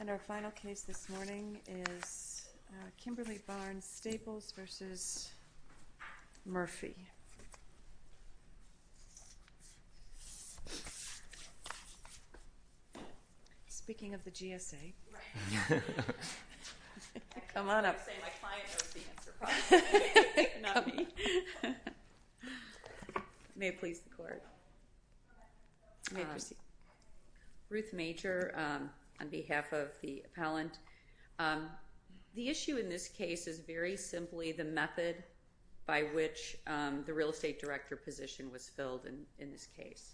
And our final case this morning is Kimberly Barnes-Staples v. Murphy. Speaking of the GSA. Right. Come on up. I was going to say my client knows the answer probably. Not me. May it please the court. You may proceed. Ruth Major on behalf of the appellant. The issue in this case is very simply the method by which the real estate director position was filled in this case.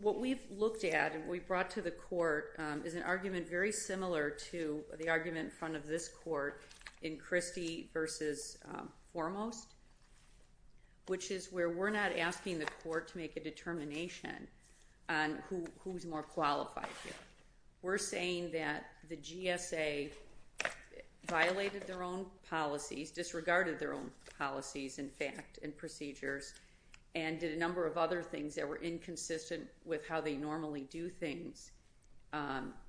What we've looked at and we've brought to the court is an argument very similar to the argument in front of this court in Christie v. Foremost. Which is where we're not asking the court to make a determination on who's more qualified here. We're saying that the GSA violated their own policies, disregarded their own policies in fact and procedures. And did a number of other things that were inconsistent with how they normally do things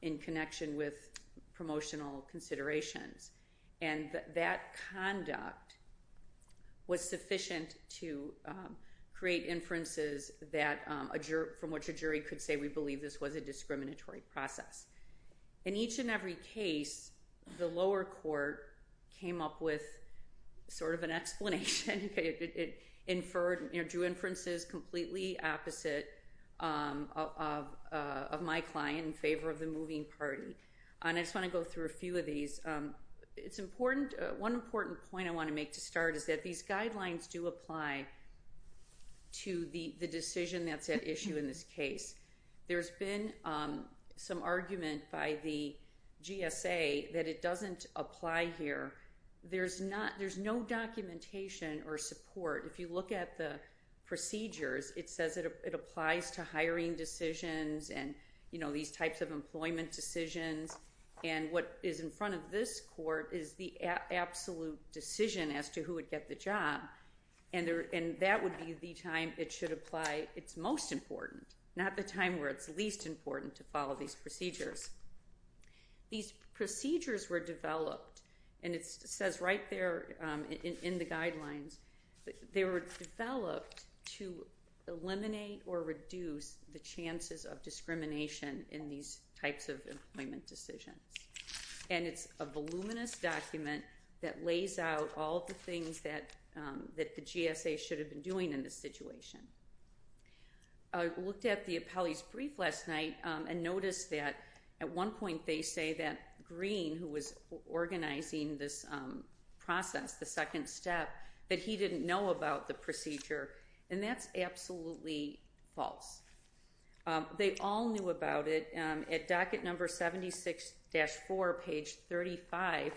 in connection with promotional considerations. And that conduct was sufficient to create inferences from which a jury could say we believe this was a discriminatory process. In each and every case the lower court came up with sort of an explanation. It inferred, drew inferences completely opposite of my client in favor of the moving party. And I just want to go through a few of these. One important point I want to make to start is that these guidelines do apply to the decision that's at issue in this case. There's been some argument by the GSA that it doesn't apply here. There's no documentation or support. If you look at the procedures it says it applies to hiring decisions and these types of employment decisions. And what is in front of this court is the absolute decision as to who would get the job. And that would be the time it should apply. It's most important, not the time where it's least important to follow these procedures. These procedures were developed and it says right there in the guidelines. They were developed to eliminate or reduce the chances of discrimination in these types of employment decisions. And it's a voluminous document that lays out all the things that the GSA should have been doing in this situation. I looked at the appellee's brief last night and noticed that at one point they say that Green, who was organizing this process, the second step, that he didn't know about the procedure. And that's absolutely false. They all knew about it. At docket number 76-4, page 35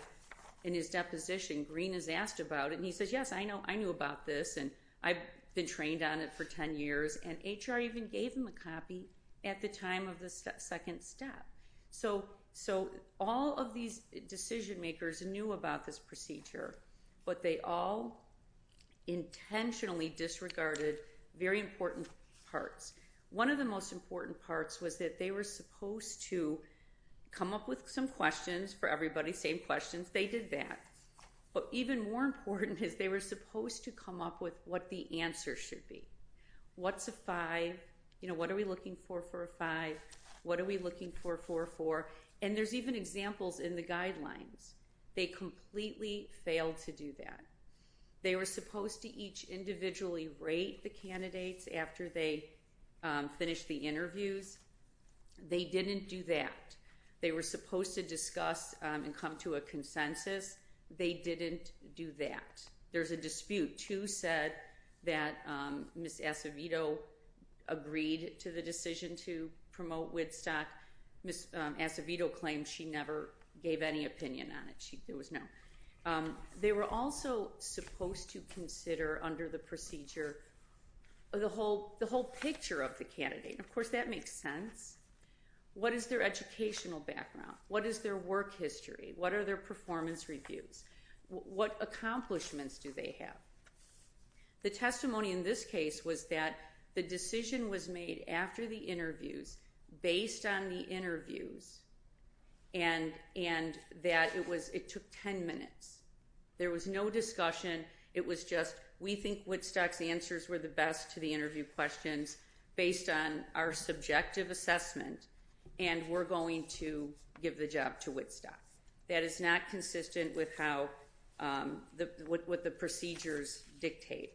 in his deposition, Green is asked about it and he says, yes, I knew about this and I've been trained on it for 10 years. And HR even gave him a copy at the time of the second step. So all of these decision makers knew about this procedure. But they all intentionally disregarded very important parts. One of the most important parts was that they were supposed to come up with some questions for everybody, same questions, they did that. But even more important is they were supposed to come up with what the answer should be. What's a 5? You know, what are we looking for for a 5? What are we looking for for a 4? And there's even examples in the guidelines. They completely failed to do that. They were supposed to each individually rate the candidates after they finished the interviews. They didn't do that. They were supposed to discuss and come to a consensus. They didn't do that. There's a dispute. Two said that Ms. Acevedo agreed to the decision to promote Woodstock. Ms. Acevedo claimed she never gave any opinion on it. There was no. They were also supposed to consider under the procedure the whole picture of the candidate. Of course, that makes sense. What is their educational background? What is their work history? What are their performance reviews? What accomplishments do they have? The testimony in this case was that the decision was made after the interviews based on the interviews and that it took 10 minutes. There was no discussion. It was just we think Woodstock's answers were the best to the interview questions based on our subjective assessment and we're going to give the job to Woodstock. That is not consistent with what the procedures dictate.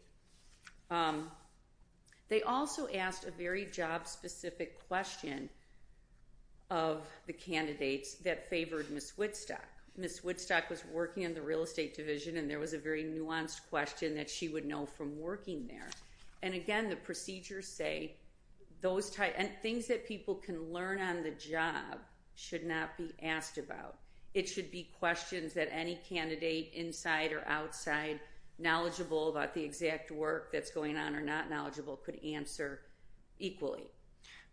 They also asked a very job specific question of the candidates that favored Ms. Woodstock. Ms. Woodstock was working in the real estate division and there was a very nuanced question that she would know from working there. Again, the procedures say those type and things that people can learn on the job should not be asked about. It should be questions that any candidate inside or outside knowledgeable about the exact work that's going on or not knowledgeable could answer equally.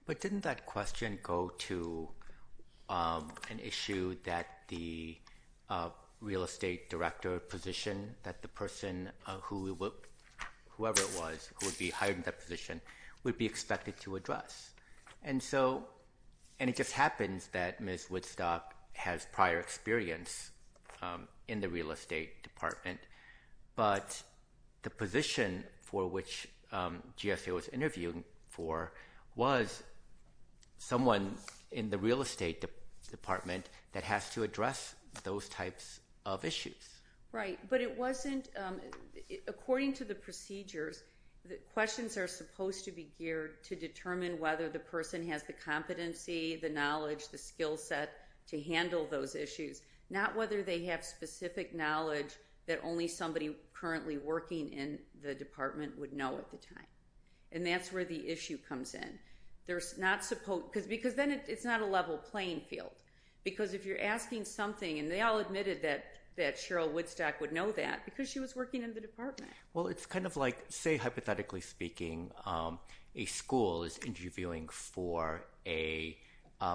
But didn't that question go to an issue that the real estate director position that the person whoever it was who would be hired in that position would be expected to address? It just happens that Ms. Woodstock has prior experience in the real estate department but the position for which GSA was interviewing for was someone in the real estate department that has to address those types of issues. Right, but according to the procedures, questions are supposed to be geared to determine whether the person has the competency, the knowledge, the skill set to handle those issues. Not whether they have specific knowledge that only somebody currently working in the department would know at the time. And that's where the issue comes in. Because then it's not a level playing field. Because if you're asking something, and they all admitted that Cheryl Woodstock would know that because she was working in the department. Well, it's kind of like, say hypothetically speaking, a school is interviewing for a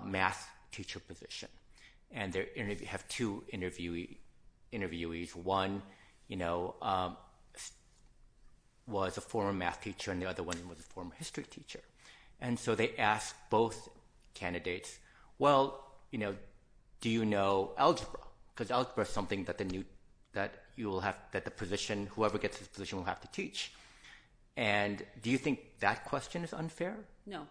math teacher position. And they have two interviewees. One was a former math teacher and the other one was a former history teacher. And so they asked both candidates, well, do you know algebra? Because algebra is something that whoever gets this position will have to teach. And do you think that question is unfair? No.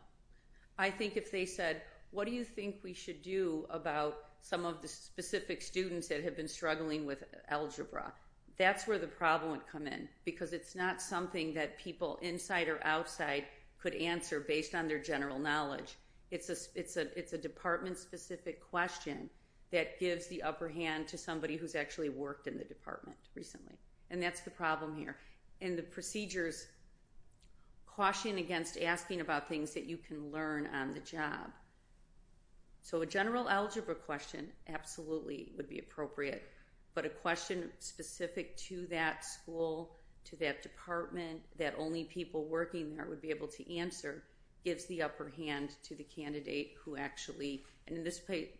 I think if they said, what do you think we should do about some of the specific students that have been struggling with algebra? That's where the problem would come in. Because it's not something that people inside or outside could answer based on their general knowledge. It's a department specific question that gives the upper hand to somebody who's actually worked in the department recently. And that's the problem here. And the procedures caution against asking about things that you can learn on the job. So a general algebra question absolutely would be appropriate. But a question specific to that school, to that department, that only people working there would be able to answer gives the upper hand to the candidate who actually, and in this case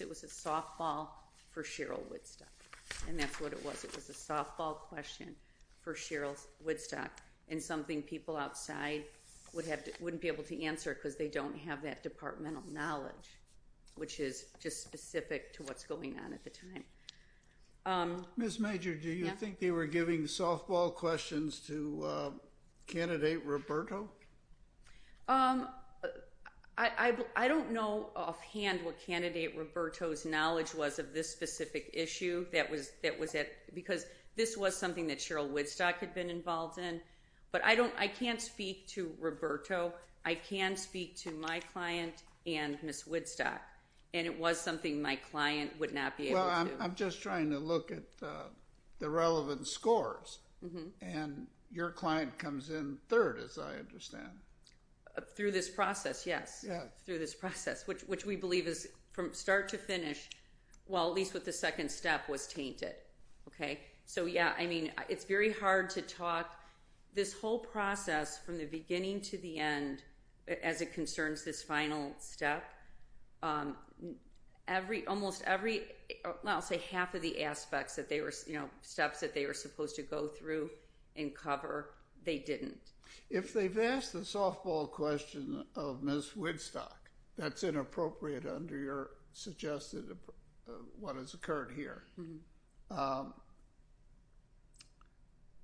it was a softball for Cheryl Woodstock. And that's what it was. It was a softball question for Cheryl Woodstock. And something people outside wouldn't be able to answer because they don't have that departmental knowledge. Which is just specific to what's going on at the time. Ms. Major, do you think they were giving softball questions to Candidate Roberto? I don't know offhand what Candidate Roberto's knowledge was of this specific issue. Because this was something that Cheryl Woodstock had been involved in. But I can't speak to Roberto. I can speak to my client and Ms. Woodstock. And it was something my client would not be able to do. Well, I'm just trying to look at the relevant scores. And your client comes in third, as I understand. Through this process, yes. Through this process, which we believe is from start to finish, well at least with the second step, was tainted. So yeah, I mean, it's very hard to talk. This whole process from the beginning to the end, as it concerns this final step. Almost every, well I'll say half of the aspects, steps that they were supposed to go through and cover, they didn't. If they've asked the softball question of Ms. Woodstock, that's inappropriate under your suggested, what has occurred here.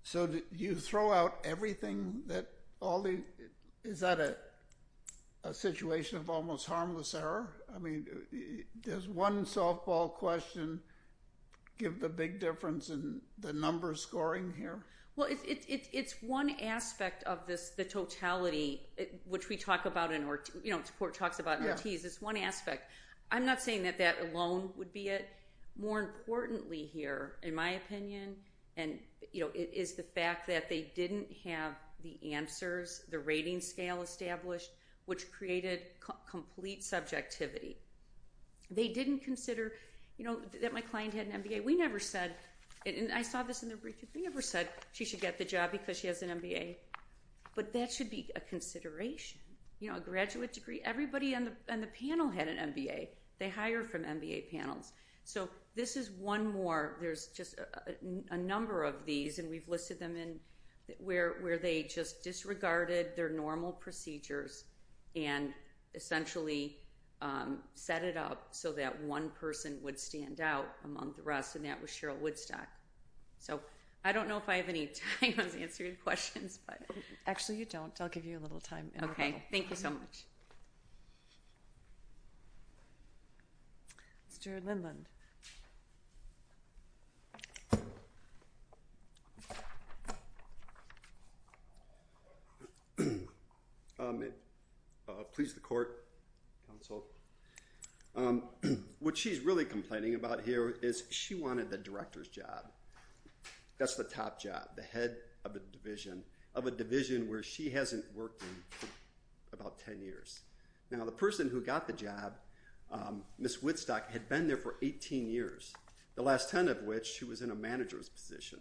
So you throw out everything that all the, is that a situation of almost harmless error? I mean, does one softball question give the big difference in the number scoring here? Well, it's one aspect of this, the totality, which we talk about in our, you know, support talks about in our teas, it's one aspect. I'm not saying that that alone would be it. More importantly here, in my opinion, is the fact that they didn't have the answers, the rating scale established, which created complete subjectivity. They didn't consider, you know, that my client had an MBA. We never said, and I saw this in their brief, we never said she should get the job because she has an MBA. But that should be a consideration. You know, a graduate degree, everybody on the panel had an MBA. They hire from MBA panels. This is one more, there's just a number of these, and we've listed them in, where they just disregarded their normal procedures, and essentially set it up so that one person would stand out among the rest, and that was Cheryl Woodstock. So, I don't know if I have any time to answer your questions. Actually you don't, I'll give you a little time. Okay, thank you so much. Thank you. Mr. Lindland. Please, the court, counsel. What she's really complaining about here is she wanted the director's job. That's the top job, the head of a division, of a division where she hasn't worked in about 10 years. Now, the person who got the job, Ms. Woodstock, had been there for 18 years, the last 10 of which she was in a manager's position.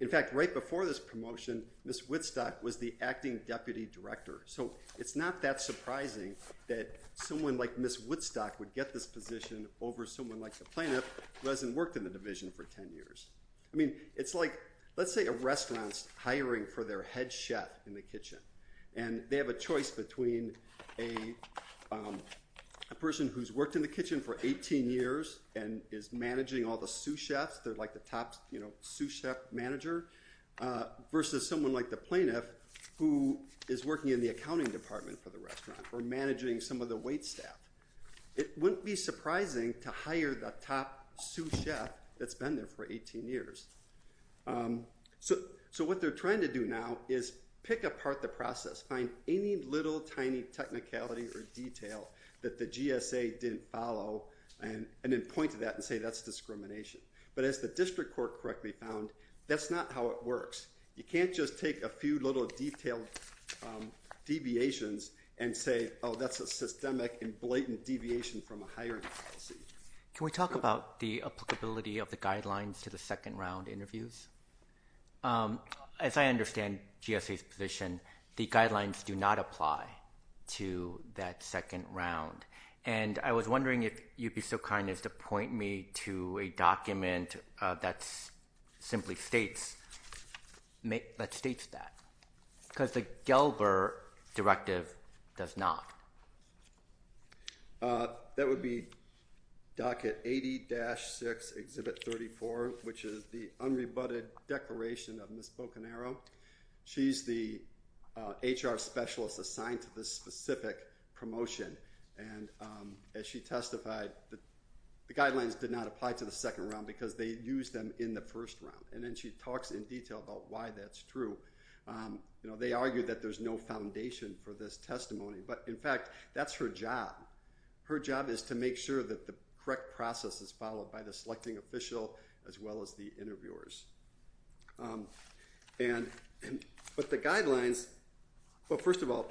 In fact, right before this promotion, Ms. Woodstock was the acting deputy director. So, it's not that surprising that someone like Ms. Woodstock would get this position over someone like the plaintiff who hasn't worked in the division for 10 years. I mean, it's like, let's say a restaurant's hiring for their head chef in the kitchen, and they have a choice between a person who's worked in the kitchen for 18 years and is managing all the sous chefs, they're like the top sous chef manager, versus someone like the plaintiff who is working in the accounting department for the restaurant or managing some of the wait staff. It wouldn't be surprising to hire the top sous chef that's been there for 18 years. So, what they're trying to do now is pick apart the process, find any little tiny technicality or detail that the GSA didn't follow, and then point to that and say that's discrimination. But as the district court correctly found, that's not how it works. You can't just take a few little detailed deviations and say, oh, that's a systemic and blatant deviation from a hiring policy. Can we talk about the applicability of the guidelines to the second round interviews? As I understand GSA's position, the guidelines do not apply to that second round. And I was wondering if you'd be so kind as to point me to a document that simply states that. Because the Gelber directive does not. That would be docket 80-6, exhibit 34, which is the unrebutted declaration of Ms. Bocanero. She's the HR specialist assigned to this specific promotion. And as she testified, the guidelines did not apply to the second round because they used them in the first round. And then she talks in detail about why that's true. You know, they argue that there's no foundation for this testimony. But in fact, that's her job. Her job is to make sure that the correct process is followed by the selecting official as well as the interviewers. And with the guidelines, well, first of all,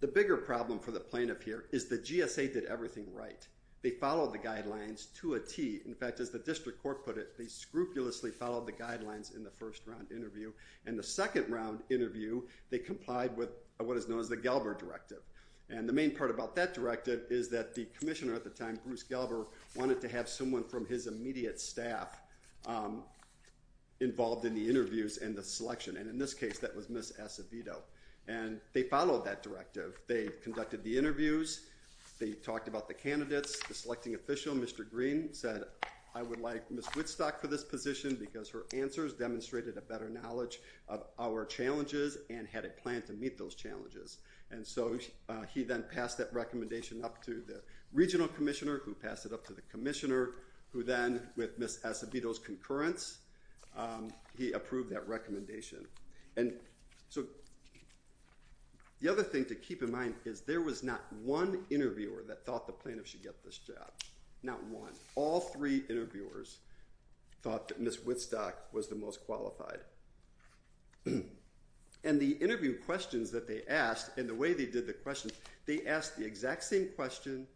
the bigger problem for the plaintiff here is the GSA did everything right. They followed the guidelines to a T. In fact, as the district court put it, they scrupulously followed the guidelines in the first round interview. And the second round interview, they complied with what is known as the Gelber directive. And the main part about that directive is that the commissioner at the time, Bruce Gelber, wanted to have someone from his immediate staff involved in the interviews and the selection. And in this case, that was Ms. Acevedo. And they followed that directive. They conducted the interviews. They talked about the candidates. The selecting official, Mr. Green, said, I would like Ms. Woodstock for this position because her answers demonstrated a better knowledge of our challenges and had a plan to meet those challenges. And so he then passed that recommendation up to the regional commissioner who passed it up to the commissioner who then, with Ms. Acevedo's concurrence, he approved that recommendation. And so the other thing to keep in mind is there was not one interviewer that thought the plaintiff should get this job. Not one. All three interviewers thought that Ms. Woodstock was the most qualified. And the interview questions that they asked and the way they did the questions, they asked the exact same question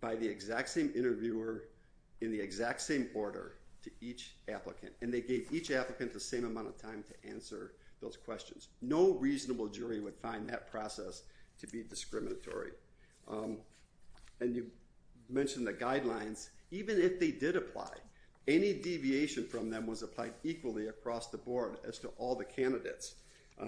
by the exact same interviewer in the exact same order to each applicant. And they gave each applicant the same amount of time to answer those questions. No reasonable jury would find that process to be discriminatory. And you mentioned the guidelines. Even if they did apply, any deviation from them was applied equally across the board as to all the candidates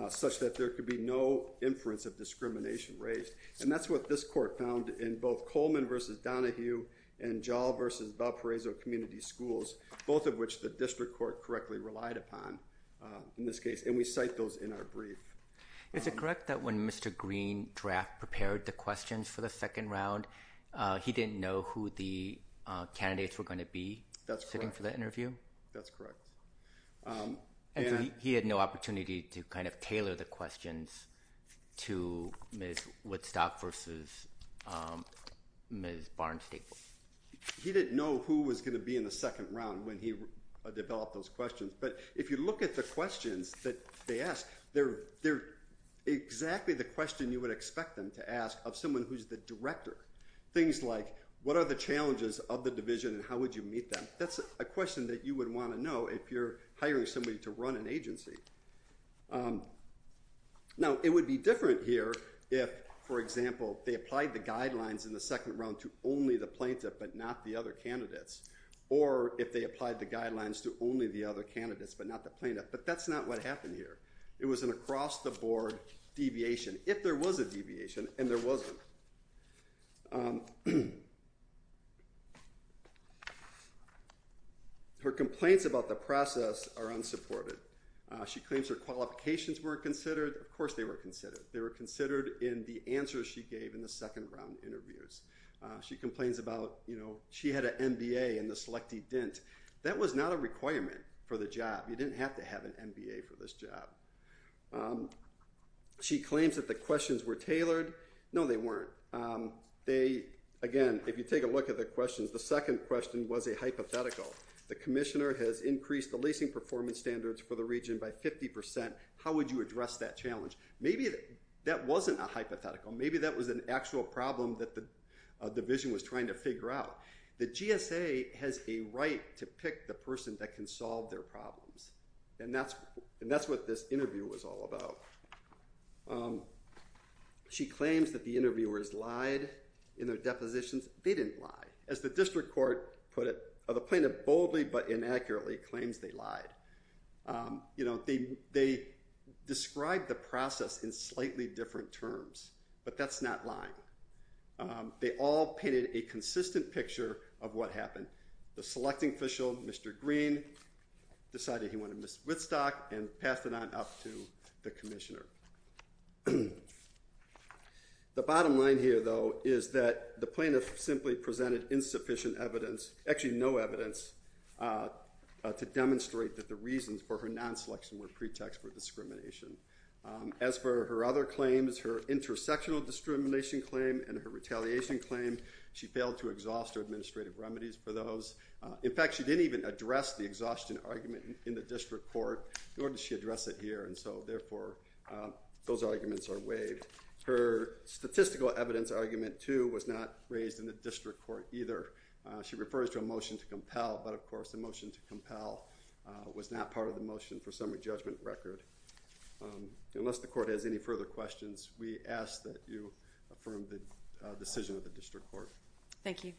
such that there could be no inference of discrimination raised. And that's what this court found in both Coleman v. Donahue and Jahl v. Valparaiso Community Schools, both of which the district court correctly relied upon in this case. And we cite those in our brief. Is it correct that when Mr. Green draft prepared the questions for the second round, he didn't know who the candidates were going to be sitting for the interview? That's correct. And he had no opportunity to kind of tailor the questions to Ms. Woodstock versus Ms. Barnes-Staple? He didn't know who was going to be in the second round when he developed those questions. But if you look at the questions that they asked, they're exactly the question you would expect them to ask of someone who's the director. Things like, what are the challenges of the division and how would you meet them? That's a question that you would want to know if you're hiring somebody to run an agency. Now, it would be different here if, for example, they applied the guidelines in the second round to only the plaintiff but not the other candidates, or if they applied the guidelines to only the other candidates but not the plaintiff. But that's not what happened here. It was an across-the-board deviation, if there was a deviation, and there wasn't. Her complaints about the process are unsupported. She claims her qualifications weren't considered. Of course they were considered. They were considered in the answers she gave in the second round interviews. She complains about, you know, she had an MBA and the selectee didn't. That was not a requirement for the job. She didn't have an MBA for this job. She claims that the questions were tailored. No, they weren't. Again, if you take a look at the questions, the second question was a hypothetical. The commissioner has increased the leasing performance standards for the region by 50%. How would you address that challenge? Maybe that wasn't a hypothetical. Maybe that was an actual problem that the division was trying to figure out. The GSA has a right to pick the person that can solve their problems. And that's what this interview was all about. She claims that the interviewers lied in their depositions. They didn't lie. As the district court put it, the plaintiff boldly but inaccurately claims they lied. You know, they described the process in slightly different terms. But that's not lying. They all painted a consistent picture of what happened. The selecting official, Mr. Green, decided he wanted Ms. Whitstock and passed it on up to the commissioner. The bottom line here, though, is that the plaintiff simply presented insufficient evidence, actually no evidence, to demonstrate that the reasons for her non-selection were pretext for discrimination. As for her other claims, her intersectional discrimination claim and her retaliation claim, she failed to exhaust her administrative remedies for those. In fact, she didn't even address the exhaustion argument in the district court, nor did she address it here. And so, therefore, those arguments are waived. Her statistical evidence argument, too, was not raised in the district court either. She refers to a motion to compel, but of course the motion to compel was not part of the motion for summary judgment record. Unless the court has any further questions, we ask that you affirm the decision of the district court. Thank you.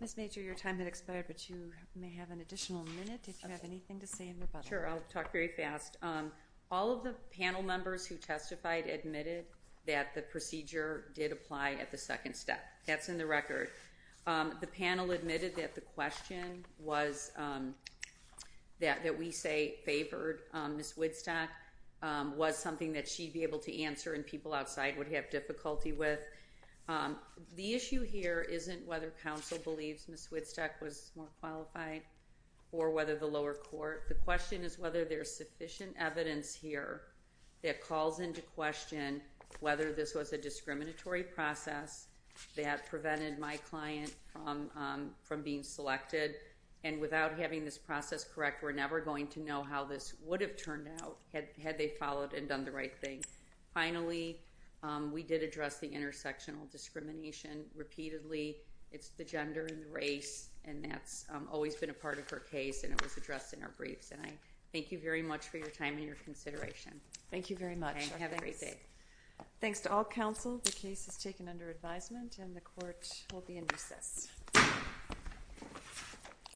Ms. Major, your time has expired, but you may have an additional minute if you have anything to say in rebuttal. Sure, I'll talk very fast. All of the panel members who testified admitted that the procedure did apply at the second step. That's in the record. The panel admitted that the question was, that we say favored Ms. Woodstock, was something that she'd be able to answer and people outside would have difficulty with. The issue here isn't whether counsel believes Ms. Woodstock was more qualified or whether the lower court. The question is whether there's sufficient evidence here that calls into question whether this was a discriminatory process that prevented my client from being selected. And without having this process correct, we're never going to know how this would have turned out had they followed and done the right thing. Finally, we did address the intersectional discrimination repeatedly. It's the gender and the race and that's always been a part of her case and it was addressed in our briefs. And I thank you very much for your time and your consideration. Thank you very much. Thanks to all counsel. The case is taken under advisement and the court will be in recess.